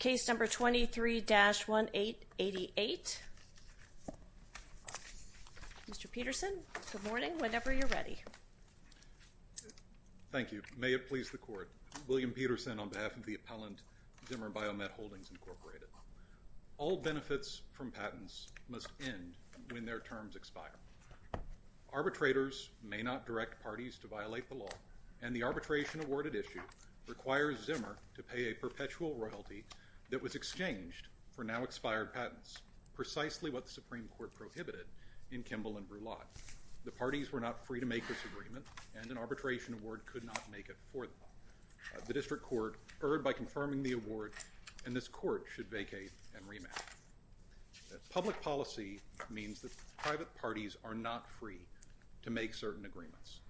Case number 23-1888. Mr. Peterson, good morning, whenever you're ready. Thank you. May it please the Court. William Peterson on behalf of the appellant, Zimmer Biomet Holdings, Inc. All benefits from patents must end when their terms expire. Arbitrators may not direct parties to violate the law, and the arbitration award at issue requires Zimmer to pay a perpetual royalty that was exchanged for now-expired patents, precisely what the Supreme Court prohibited in Kimball v. Brulotte. The parties were not free to make this agreement, and an arbitration award could not make it for them. The District Court erred by confirming the award, and this Court should vacate and remand. Public policy means that private parties are not free to make certain agreements.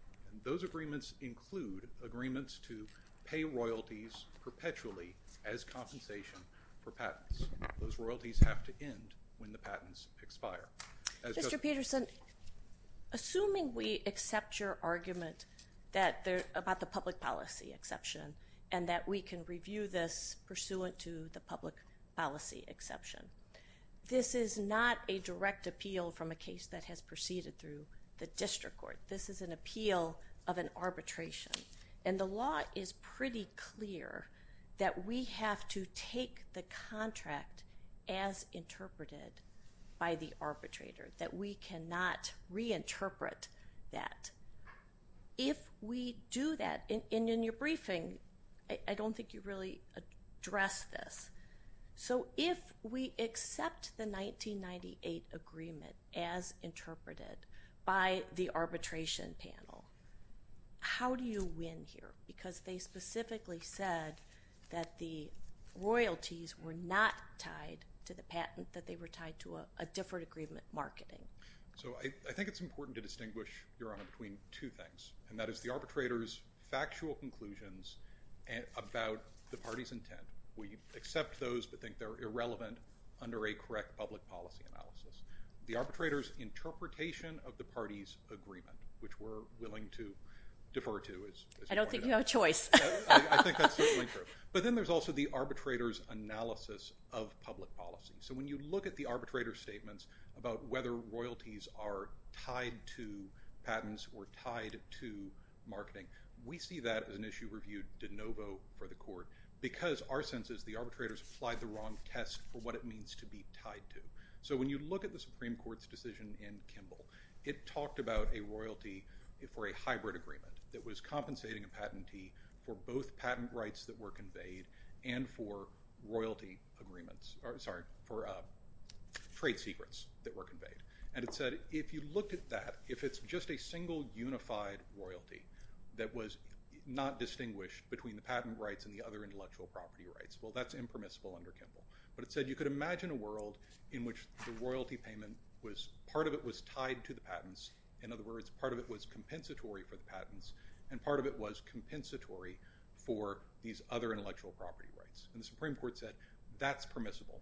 Those agreements include agreements to pay royalties perpetually as compensation for patents. Those royalties have to end when the patents expire. Mr. Peterson, assuming we accept your argument about the public policy exception and that we can review this pursuant to the public policy exception, this is not a direct appeal from a case that has proceeded through the District Court. This is an appeal of an arbitration, and the law is pretty clear that we have to take the contract as interpreted by the arbitrator, that we cannot reinterpret that. If we do that, and in your briefing, I don't think you really addressed this. So if we accept the 1998 agreement as interpreted by the arbitration panel, how do you win here? Because they specifically said that the royalties were not tied to the patent, that they were tied to a different agreement marketing. So I think it's important to distinguish, Your Honor, between two things, and that is the arbitrator's factual conclusions about the party's intent. We accept those but think they're irrelevant under a correct public policy analysis. The arbitrator's interpretation of the party's agreement, which we're willing to defer to. I don't think you have a choice. I think that's certainly true. But then there's also the arbitrator's analysis of public policy. So when you look at the arbitrator's statements about whether royalties are tied to patents or tied to marketing, we see that as an issue reviewed de novo for the Court because our sense is the arbitrator's applied the wrong test for what it means to be tied to. So when you look at the Supreme Court's decision in Kimball, it talked about a royalty for a hybrid agreement that was compensating a patentee for both patent rights that were conveyed and for trade secrets that were conveyed. And it said if you looked at that, if it's just a single unified royalty that was not distinguished between the patent rights and the other intellectual property rights, well, that's impermissible under Kimball. But it said you could imagine a world in which the royalty payment, part of it was tied to the patents. In other words, part of it was compensatory for the patents and part of it was compensatory for these other intellectual property rights. And the Supreme Court said that's permissible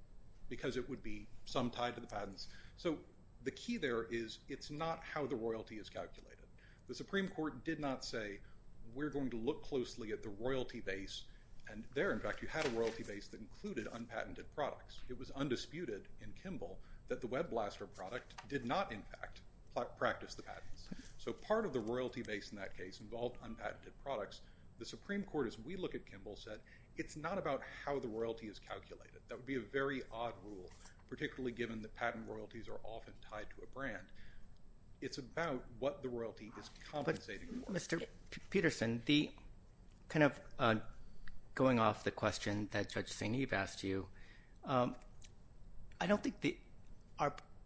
because it would be some tied to the patents. So the key there is it's not how the royalty is calculated. The Supreme Court did not say we're going to look closely at the royalty base, and there, in fact, you had a royalty base that included unpatented products. It was undisputed in Kimball that the WebBlaster product did not, in fact, practice the patents. So part of the royalty base in that case involved unpatented products. The Supreme Court, as we look at Kimball, said it's not about how the royalty is calculated. That would be a very odd rule, particularly given that patent royalties are often tied to a brand. It's about what the royalty is compensated for. Mr. Peterson, kind of going off the question that Judge St. Eve asked you, I don't think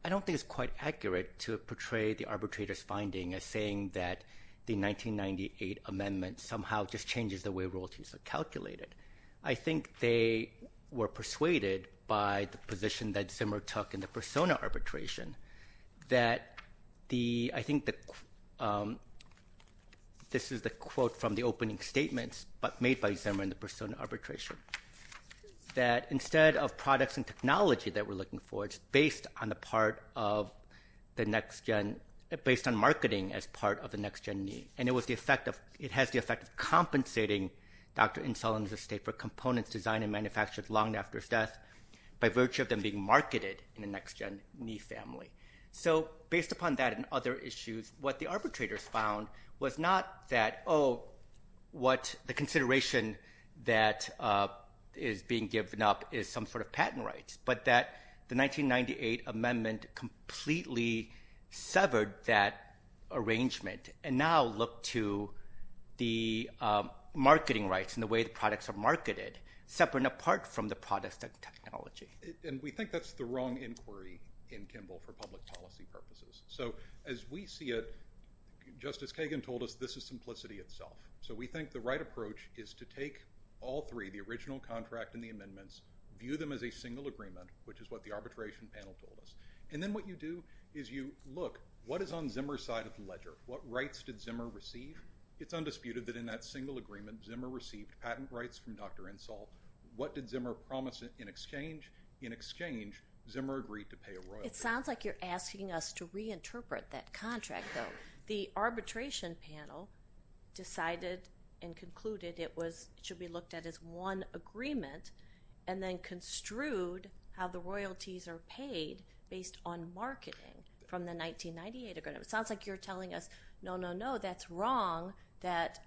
it's quite accurate to portray the arbitrator's finding as saying that the 1998 amendment somehow just changes the way royalties are calculated. I think they were persuaded by the position that Zimmer took in the Persona arbitration that I think this is the quote from the opening statements made by Zimmer in the Persona arbitration, that instead of products and technology that we're looking for, it's based on marketing as part of the next-gen need. And it has the effect of compensating Dr. Insullin's estate for components designed and manufactured long after his death by virtue of them being marketed in the next-gen need family. So based upon that and other issues, what the arbitrators found was not that, oh, what the consideration that is being given up is some sort of patent rights, but that the 1998 amendment completely severed that arrangement and now looked to the marketing rights and the way the products are marketed separate and apart from the products and technology. And we think that's the wrong inquiry in Kimball for public policy purposes. So as we see it, Justice Kagan told us, this is simplicity itself. So we think the right approach is to take all three, the original contract and the amendments, view them as a single agreement, which is what the arbitration panel told us. And then what you do is you look, what is on Zimmer's side of the ledger? What rights did Zimmer receive? It's undisputed that in that single agreement, Zimmer received patent rights from Dr. Insull. What did Zimmer promise in exchange? In exchange, Zimmer agreed to pay a royalty. It sounds like you're asking us to reinterpret that contract, though. The arbitration panel decided and concluded it should be looked at as one agreement and then construed how the royalties are paid based on marketing from the 1998 agreement. It sounds like you're telling us, no, no, no, that's wrong, that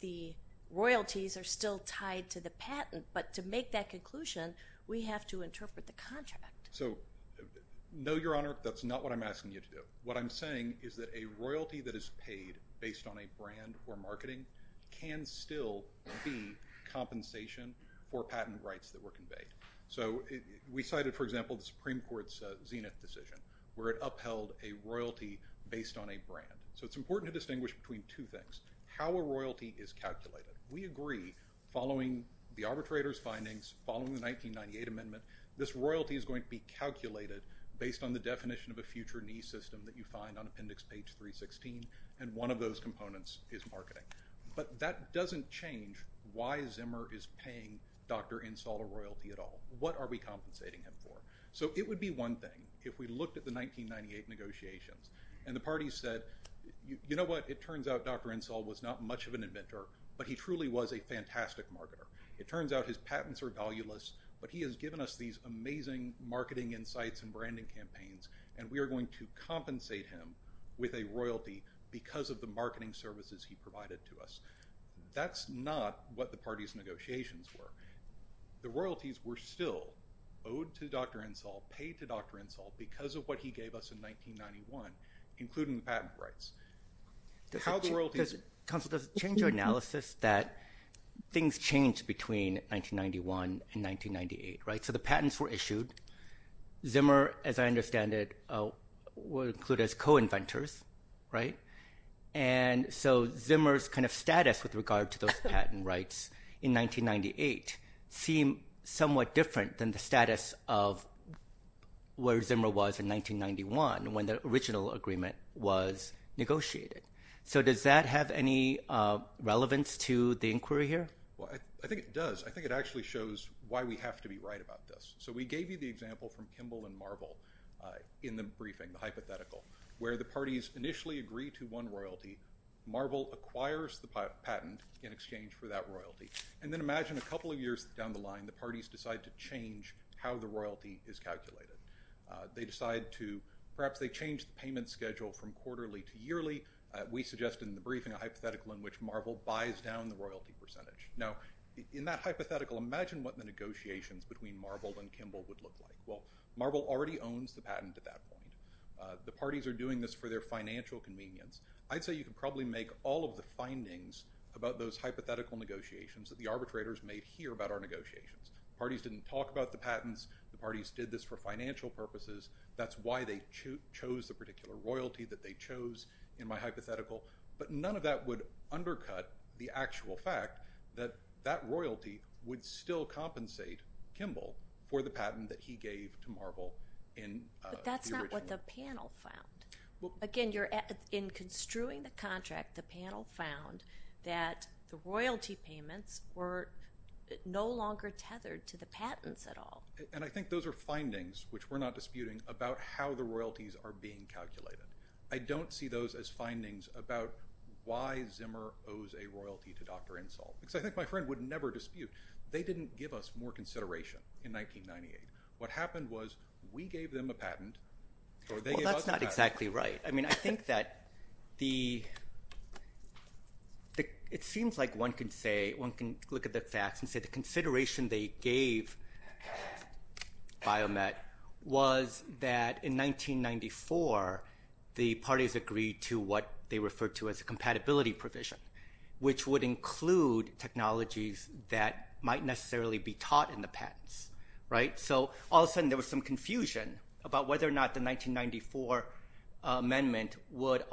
the royalties are still tied to the patent. But to make that conclusion, we have to interpret the contract. So, no, Your Honor, that's not what I'm asking you to do. What I'm saying is that a royalty that is paid based on a brand or marketing can still be compensation for patent rights that were conveyed. So we cited, for example, the Supreme Court's Zenith decision, where it upheld a royalty based on a brand. So it's important to distinguish between two things. How a royalty is calculated. We agree, following the arbitrator's findings, following the 1998 amendment, this royalty is going to be calculated based on the definition of a future knee system that you find on appendix page 316, and one of those components is marketing. But that doesn't change why Zimmer is paying Dr. Insull a royalty at all. What are we compensating him for? So it would be one thing if we looked at the 1998 negotiations and the parties said, you know what, it turns out Dr. Insull was not much of an inventor, but he truly was a fantastic marketer. It turns out his patents are valueless, but he has given us these amazing marketing insights and branding campaigns, and we are going to compensate him with a royalty because of the marketing services he provided to us. That's not what the parties' negotiations were. The royalties were still owed to Dr. Insull, paid to Dr. Insull, because of what he gave us in 1991, including the patent rights. Counsel, does it change your analysis that things changed between 1991 and 1998, right? So the patents were issued. Zimmer, as I understand it, were included as co-inventors, right? And so Zimmer's kind of status with regard to those patent rights in 1998 seemed somewhat different than the status of where Zimmer was in 1991, when the original agreement was negotiated. So does that have any relevance to the inquiry here? Well, I think it does. I think it actually shows why we have to be right about this. So we gave you the example from Kimball and Marvel in the briefing, the hypothetical, where the parties initially agree to one royalty. Marvel acquires the patent in exchange for that royalty. And then imagine a couple of years down the line, the parties decide to change how the royalty is calculated. Perhaps they change the payment schedule from quarterly to yearly. We suggested in the briefing a hypothetical in which Marvel buys down the royalty percentage. Now, in that hypothetical, imagine what the negotiations between Marvel and Kimball would look like. Well, Marvel already owns the patent at that point. The parties are doing this for their financial convenience. I'd say you could probably make all of the findings about those hypothetical negotiations that the arbitrators made here about our negotiations. The parties didn't talk about the patents. The parties did this for financial purposes. That's why they chose the particular royalty that they chose in my hypothetical. But none of that would undercut the actual fact that that royalty would still compensate Kimball for the patent that he gave to Marvel in the original agreement. What did the panel found? Again, in construing the contract, the panel found that the royalty payments were no longer tethered to the patents at all. And I think those are findings, which we're not disputing, about how the royalties are being calculated. I don't see those as findings about why Zimmer owes a royalty to Dr. Insull, because I think my friend would never dispute. They didn't give us more consideration in 1998. What happened was we gave them a patent or they gave us a patent. Well, that's not exactly right. I mean, I think that it seems like one can look at the facts and say the consideration they gave Biomet was that in 1994 the parties agreed to what they referred to as a compatibility provision, which would include technologies that might necessarily be taught in the patents. So all of a sudden there was some confusion about whether or not the 1994 amendment would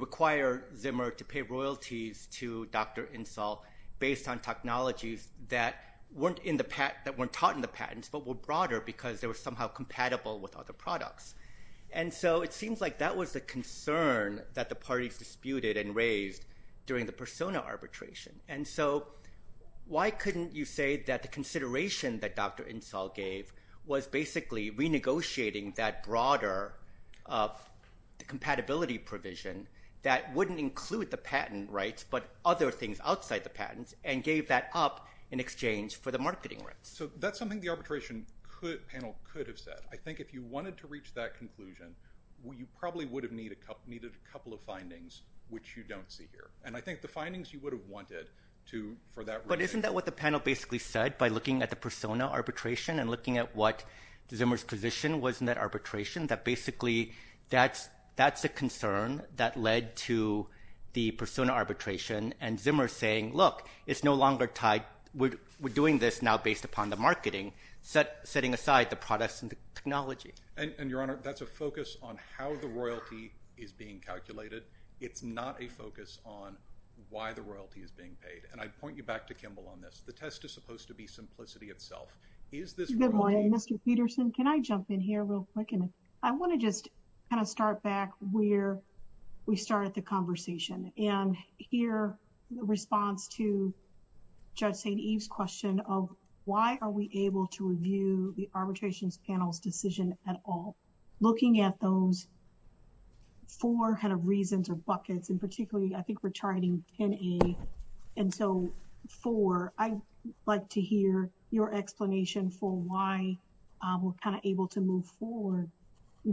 require Zimmer to pay royalties to Dr. Insull based on technologies that weren't taught in the patents but were broader because they were somehow compatible with other products. And so it seems like that was the concern that the parties disputed and raised during the persona arbitration. And so why couldn't you say that the consideration that Dr. Insull gave was basically renegotiating that broader compatibility provision that wouldn't include the patent rights but other things outside the patents and gave that up in exchange for the marketing rights? So that's something the arbitration panel could have said. I think if you wanted to reach that conclusion, you probably would have needed a couple of findings, which you don't see here. And I think the findings you would have wanted to for that reason. But isn't that what the panel basically said by looking at the persona arbitration and looking at what Zimmer's position was in that arbitration, that basically that's a concern that led to the persona arbitration and Zimmer saying, look, it's no longer tied. We're doing this now based upon the marketing, setting aside the products and the technology. And, Your Honor, that's a focus on how the royalty is being calculated. It's not a focus on why the royalty is being paid. And I point you back to Kimball on this. The test is supposed to be simplicity itself. Is this royalty? Good morning, Mr. Peterson. Can I jump in here real quick? And I want to just kind of start back where we started the conversation. And here, the response to Judge St. Eve's question of why are we able to review the arbitration panel's decision at all. Looking at those four kind of reasons or buckets, and particularly I think we're charting 10A. And so, four, I'd like to hear your explanation for why we're kind of able to move forward,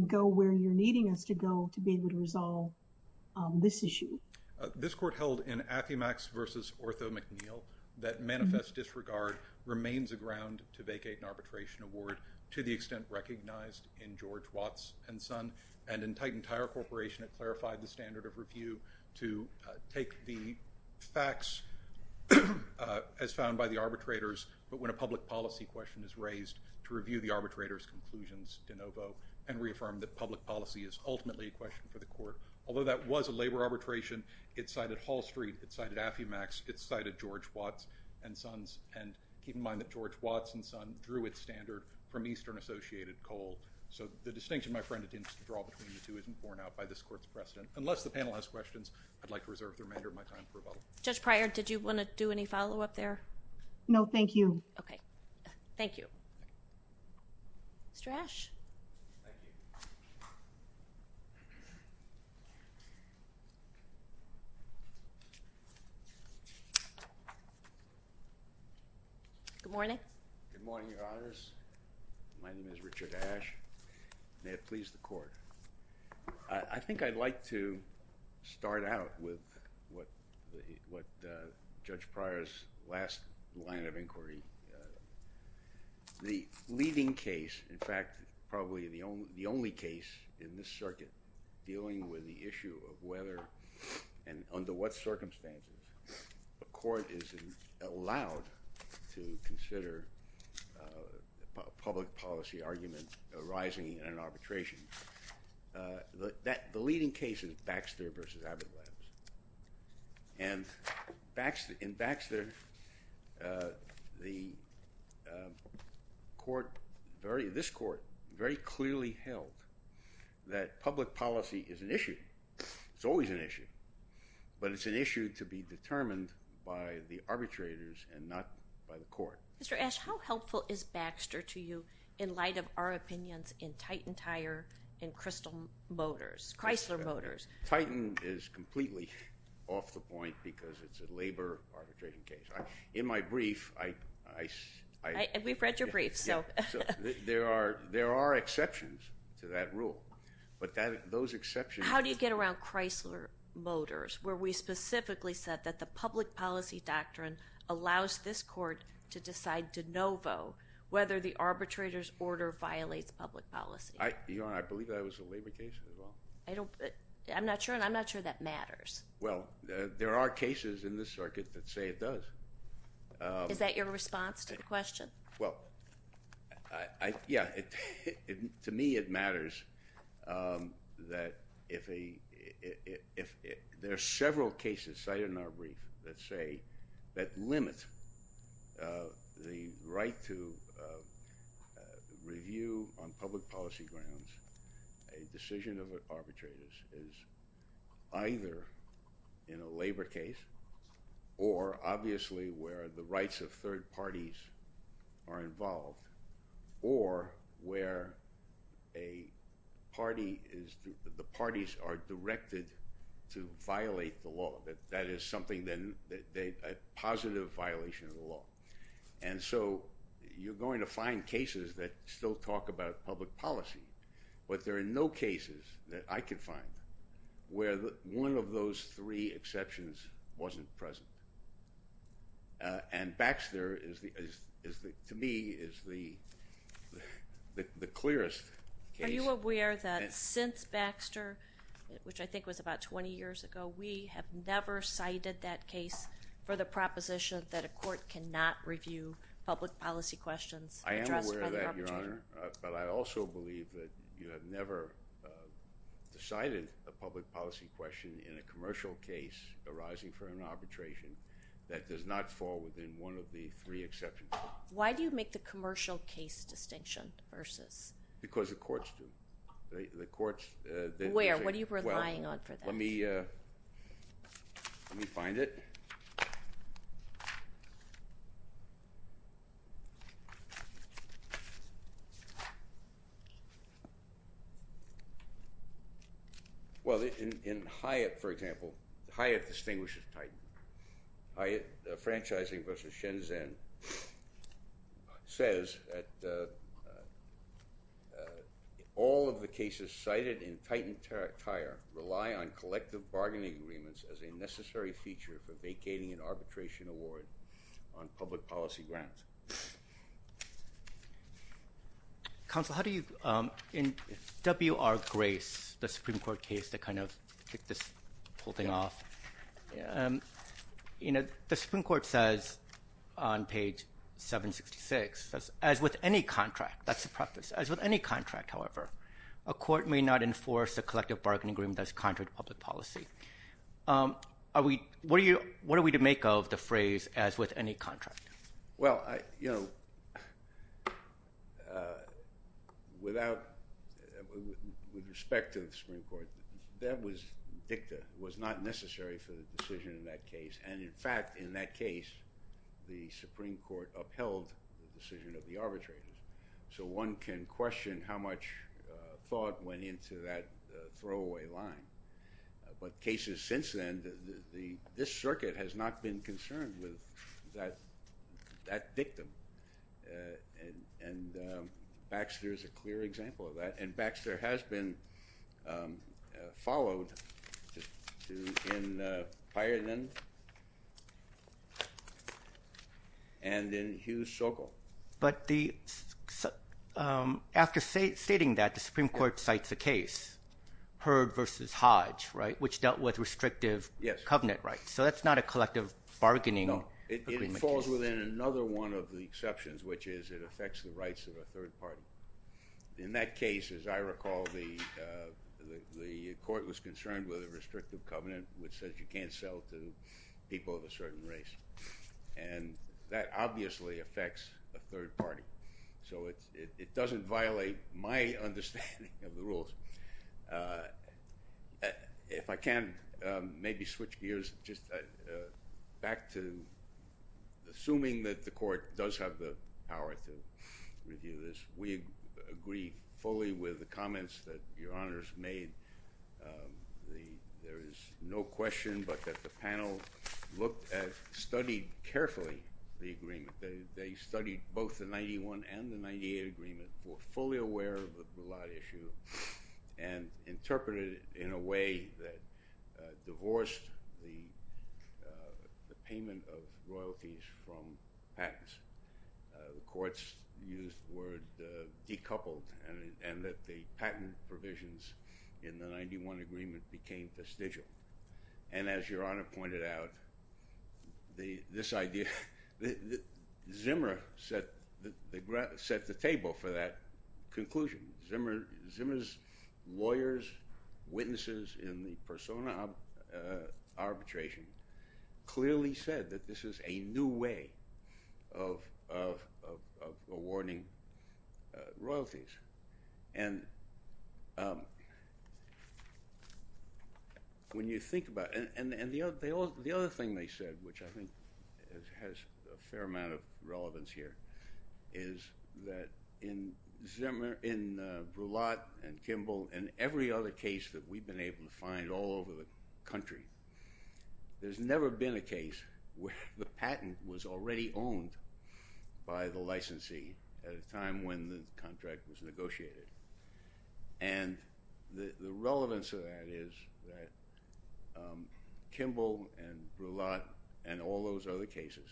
go where you're needing us to go to be able to resolve this issue. This court held in Affymax v. Ortho McNeil that manifest disregard remains a ground to vacate an arbitration award to the extent recognized in George Watts and Son. And in Titan Tire Corporation, it clarified the standard of review to take the facts as found by the arbitrators, but when a public policy question is raised, to review the arbitrator's conclusions de novo and reaffirm that public policy is ultimately a question for the court. Although that was a labor arbitration, it cited Hall Street, it cited Affymax, it cited George Watts and Sons. And keep in mind that George Watts and Son drew its standard from Eastern Associated Coal. So the distinction, my friend, it tends to draw between the two isn't borne out by this court's precedent. Unless the panel has questions, I'd like to reserve the remainder of my time for rebuttal. Judge Pryor, did you want to do any follow-up there? No, thank you. Okay. Thank you. Mr. Ash. Thank you. Good morning. Good morning, Your Honors. My name is Richard Ash. May it please the court. I think I'd like to start out with what Judge Pryor's last line of inquiry. The leading case, in fact, probably the only case in this circuit dealing with the issue of whether and under what circumstances a court is allowed to consider a public policy argument arising in an arbitration. The leading case is Baxter v. Abbott Labs. And in Baxter, this court very clearly held that public policy is an issue. It's always an issue. But it's an issue to be determined by the arbitrators and not by the court. Mr. Ash, how helpful is Baxter to you in light of our opinions in Titan Tire and Chrysler Motors? Titan is completely off the point because it's a labor arbitration case. In my brief, I – We've read your brief, so – There are exceptions to that rule. But those exceptions – How do you get around Chrysler Motors, where we specifically said that the public policy doctrine allows this court to decide de novo whether the arbitrator's order violates public policy? Your Honor, I believe that was a labor case as well. I don't – I'm not sure, and I'm not sure that matters. Well, there are cases in this circuit that say it does. Is that your response to the question? Well, yeah. To me, it matters that if a – there are several cases cited in our brief that say that limits the right to review on public policy grounds. A decision of arbitrators is either in a labor case or obviously where the rights of third parties are involved or where a party is – the parties are directed to violate the law. That is something that – a positive violation of the law. And so you're going to find cases that still talk about public policy. But there are no cases that I could find where one of those three exceptions wasn't present. And Baxter is the – to me, is the clearest case. Are you aware that since Baxter, which I think was about 20 years ago, we have never cited that case for the proposition that a court cannot review public policy questions? I am aware of that, Your Honor. But I also believe that you have never cited a public policy question in a commercial case arising from an arbitration that does not fall within one of the three exceptions. Why do you make the commercial case distinction versus – Because the courts do. The courts – Where? What are you relying on for that? Let me find it. Well, in Hyatt, for example, Hyatt distinguishes Titan. Hyatt Franchising versus Shenzhen says that all of the cases cited in Titan Tire rely on collective bargaining agreements as a necessary feature for vacating an arbitration award on public policy grants. Counsel, how do you – in W.R. Grace, the Supreme Court case that kind of kicked this whole thing off, the Supreme Court says on page 766, as with any contract – that's the preface – as with any contract, however, a court may not enforce a collective bargaining agreement that is contrary to public policy. What are we to make of the phrase, as with any contract? Well, you know, without – with respect to the Supreme Court, that was dicta. It was not necessary for the decision in that case. And in fact, in that case, the Supreme Court upheld the decision of the arbitrators. So one can question how much thought went into that throwaway line. But cases since then, the – this circuit has not been concerned with that dictum. And Baxter is a clear example of that. And Baxter has been followed in Pyrenees and in Hugh Sokol. But the – after stating that, the Supreme Court cites a case, Heard v. Hodge, right, which dealt with restrictive covenant rights. So that's not a collective bargaining agreement. No, it falls within another one of the exceptions, which is it affects the rights of a third party. In that case, as I recall, the court was concerned with a restrictive covenant, which says you can't sell to people of a certain race. And that obviously affects a third party. So it doesn't violate my understanding of the rules. If I can maybe switch gears just back to assuming that the court does have the power to review this. We agree fully with the comments that Your Honors made. There is no question but that the panel looked at – studied carefully the agreement. They studied both the 91 and the 98 agreement, were fully aware of the blood issue, and interpreted it in a way that divorced the payment of royalties from patents. The courts used the word decoupled and that the patent provisions in the 91 agreement became vestigial. And as Your Honor pointed out, this idea – Zimmer set the table for that conclusion. Zimmer's lawyers, witnesses in the persona arbitration, clearly said that this is a new way of awarding royalties. And when you think about – and the other thing they said, which I think has a fair amount of relevance here, is that in Brulotte and Kimball and every other case that we've been able to find all over the country, there's never been a case where the patent was already owned by the licensee at a time when the contract was negotiated. And the relevance of that is that Kimball and Brulotte and all those other cases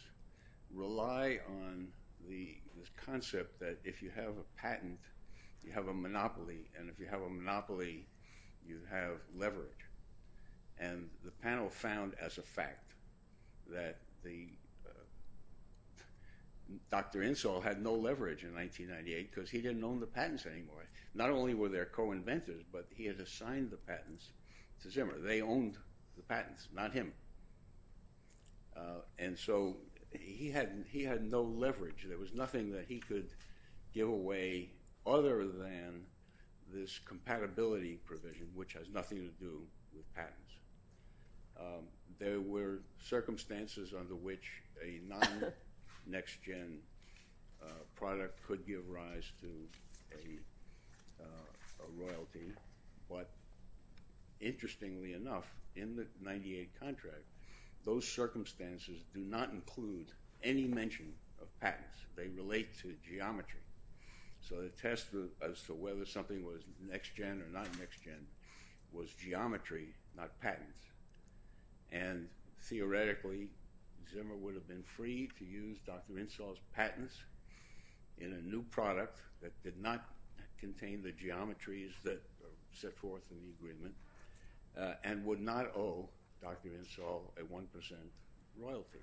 rely on this concept that if you have a patent, you have a monopoly, and if you have a monopoly, you have leverage. And the panel found as a fact that Dr. Insall had no leverage in 1998 because he didn't own the patents anymore. Not only were there co-inventors, but he had assigned the patents to Zimmer. They owned the patents, not him. And so he had no leverage. There was nothing that he could give away other than this compatibility provision, which has nothing to do with patents. There were circumstances under which a non-next-gen product could give rise to a royalty. But interestingly enough, in the 1998 contract, those circumstances do not include any mention of patents. They relate to geometry. So the test as to whether something was next-gen or not next-gen was geometry, not patents. And theoretically, Zimmer would have been free to use Dr. Insall's patents in a new product that did not contain the geometries that are set forth in the agreement and would not owe Dr. Insall a 1 percent royalty.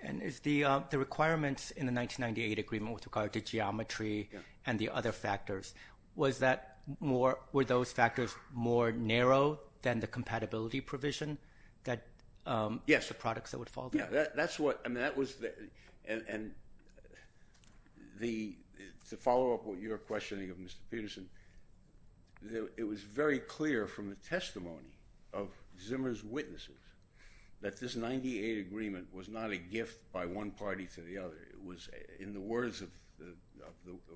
And is the requirements in the 1998 agreement with regard to geometry and the other factors, were those factors more narrow than the compatibility provision for products that would follow that? And to follow up what you're questioning of Mr. Peterson, it was very clear from the testimony of Zimmer's witnesses that this 1998 agreement was not a gift by one party to the other. In the words of the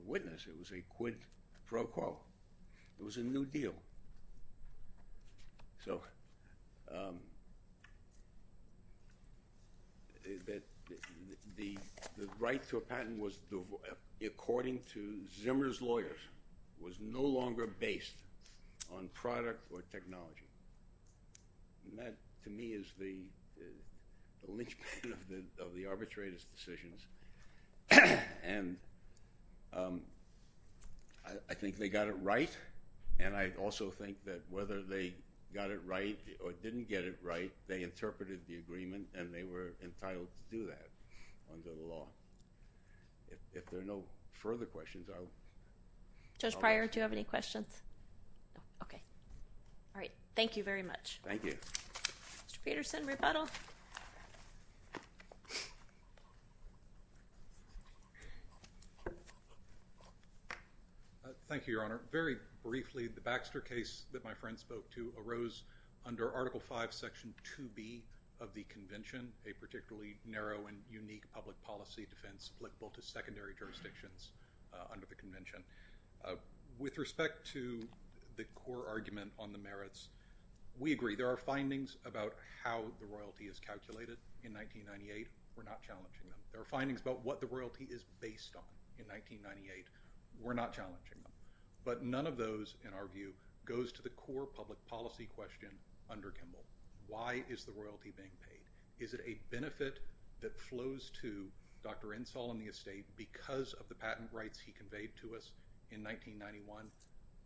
witness, it was a quid pro quo. It was a new deal. So the right to a patent, according to Zimmer's lawyers, was no longer based on product or technology. And that, to me, is the linchpin of the arbitrator's decisions. And I think they got it right. And I also think that whether they got it right or didn't get it right, they interpreted the agreement and they were entitled to do that under the law. If there are no further questions, I'll let you go. Judge Pryor, do you have any questions? No. Okay. All right, thank you very much. Thank you. Mr. Peterson, rebuttal. Thank you, Your Honor. Very briefly, the Baxter case that my friend spoke to arose under Article V, Section 2B of the convention, a particularly narrow and unique public policy defense applicable to secondary jurisdictions under the convention. With respect to the core argument on the merits, we agree. There are findings about how the royalty is calculated in 1998. We're not challenging them. There are findings about what the royalty is based on in 1998. We're not challenging them. But none of those, in our view, goes to the core public policy question under Kimball. Why is the royalty being paid? Is it a benefit that flows to Dr. Insall and the estate because of the patent rights he conveyed to us in 1991?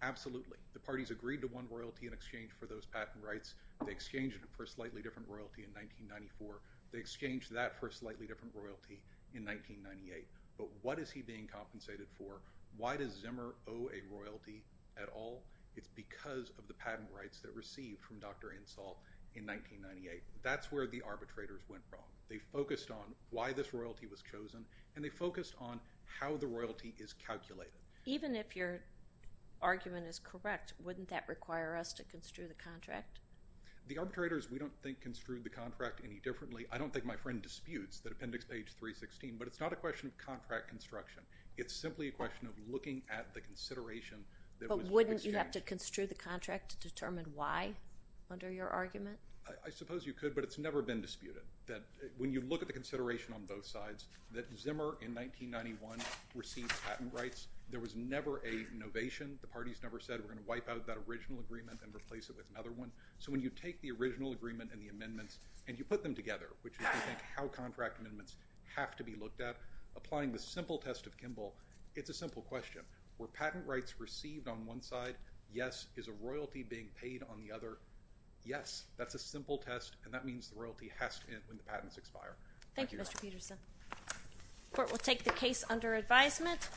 Absolutely. The parties agreed to one royalty in exchange for those patent rights. They exchanged it for a slightly different royalty in 1994. They exchanged that for a slightly different royalty in 1998. But what is he being compensated for? Why does Zimmer owe a royalty at all? It's because of the patent rights that received from Dr. Insall in 1998. That's where the arbitrators went wrong. They focused on why this royalty was chosen, and they focused on how the royalty is calculated. Even if your argument is correct, wouldn't that require us to construe the contract? The arbitrators, we don't think, construed the contract any differently. I don't think my friend disputes that appendix page 316, but it's not a question of contract construction. It's simply a question of looking at the consideration that was exchanged. But wouldn't you have to construe the contract to determine why under your argument? I suppose you could, but it's never been disputed. When you look at the consideration on both sides, that Zimmer, in 1991, received patent rights, there was never a novation. The parties never said, we're going to wipe out that original agreement and replace it with another one. So when you take the original agreement and the amendments and you put them together, which is, I think, how contract amendments have to be looked at, applying the simple test of Kimball, it's a simple question. Were patent rights received on one side? Yes. Is a royalty being paid on the other? Yes. That's a simple test, and that means the royalty has to end when the patents expire. Thank you, Your Honor. Thank you, Mr. Peterson. The court will take the case under advisement.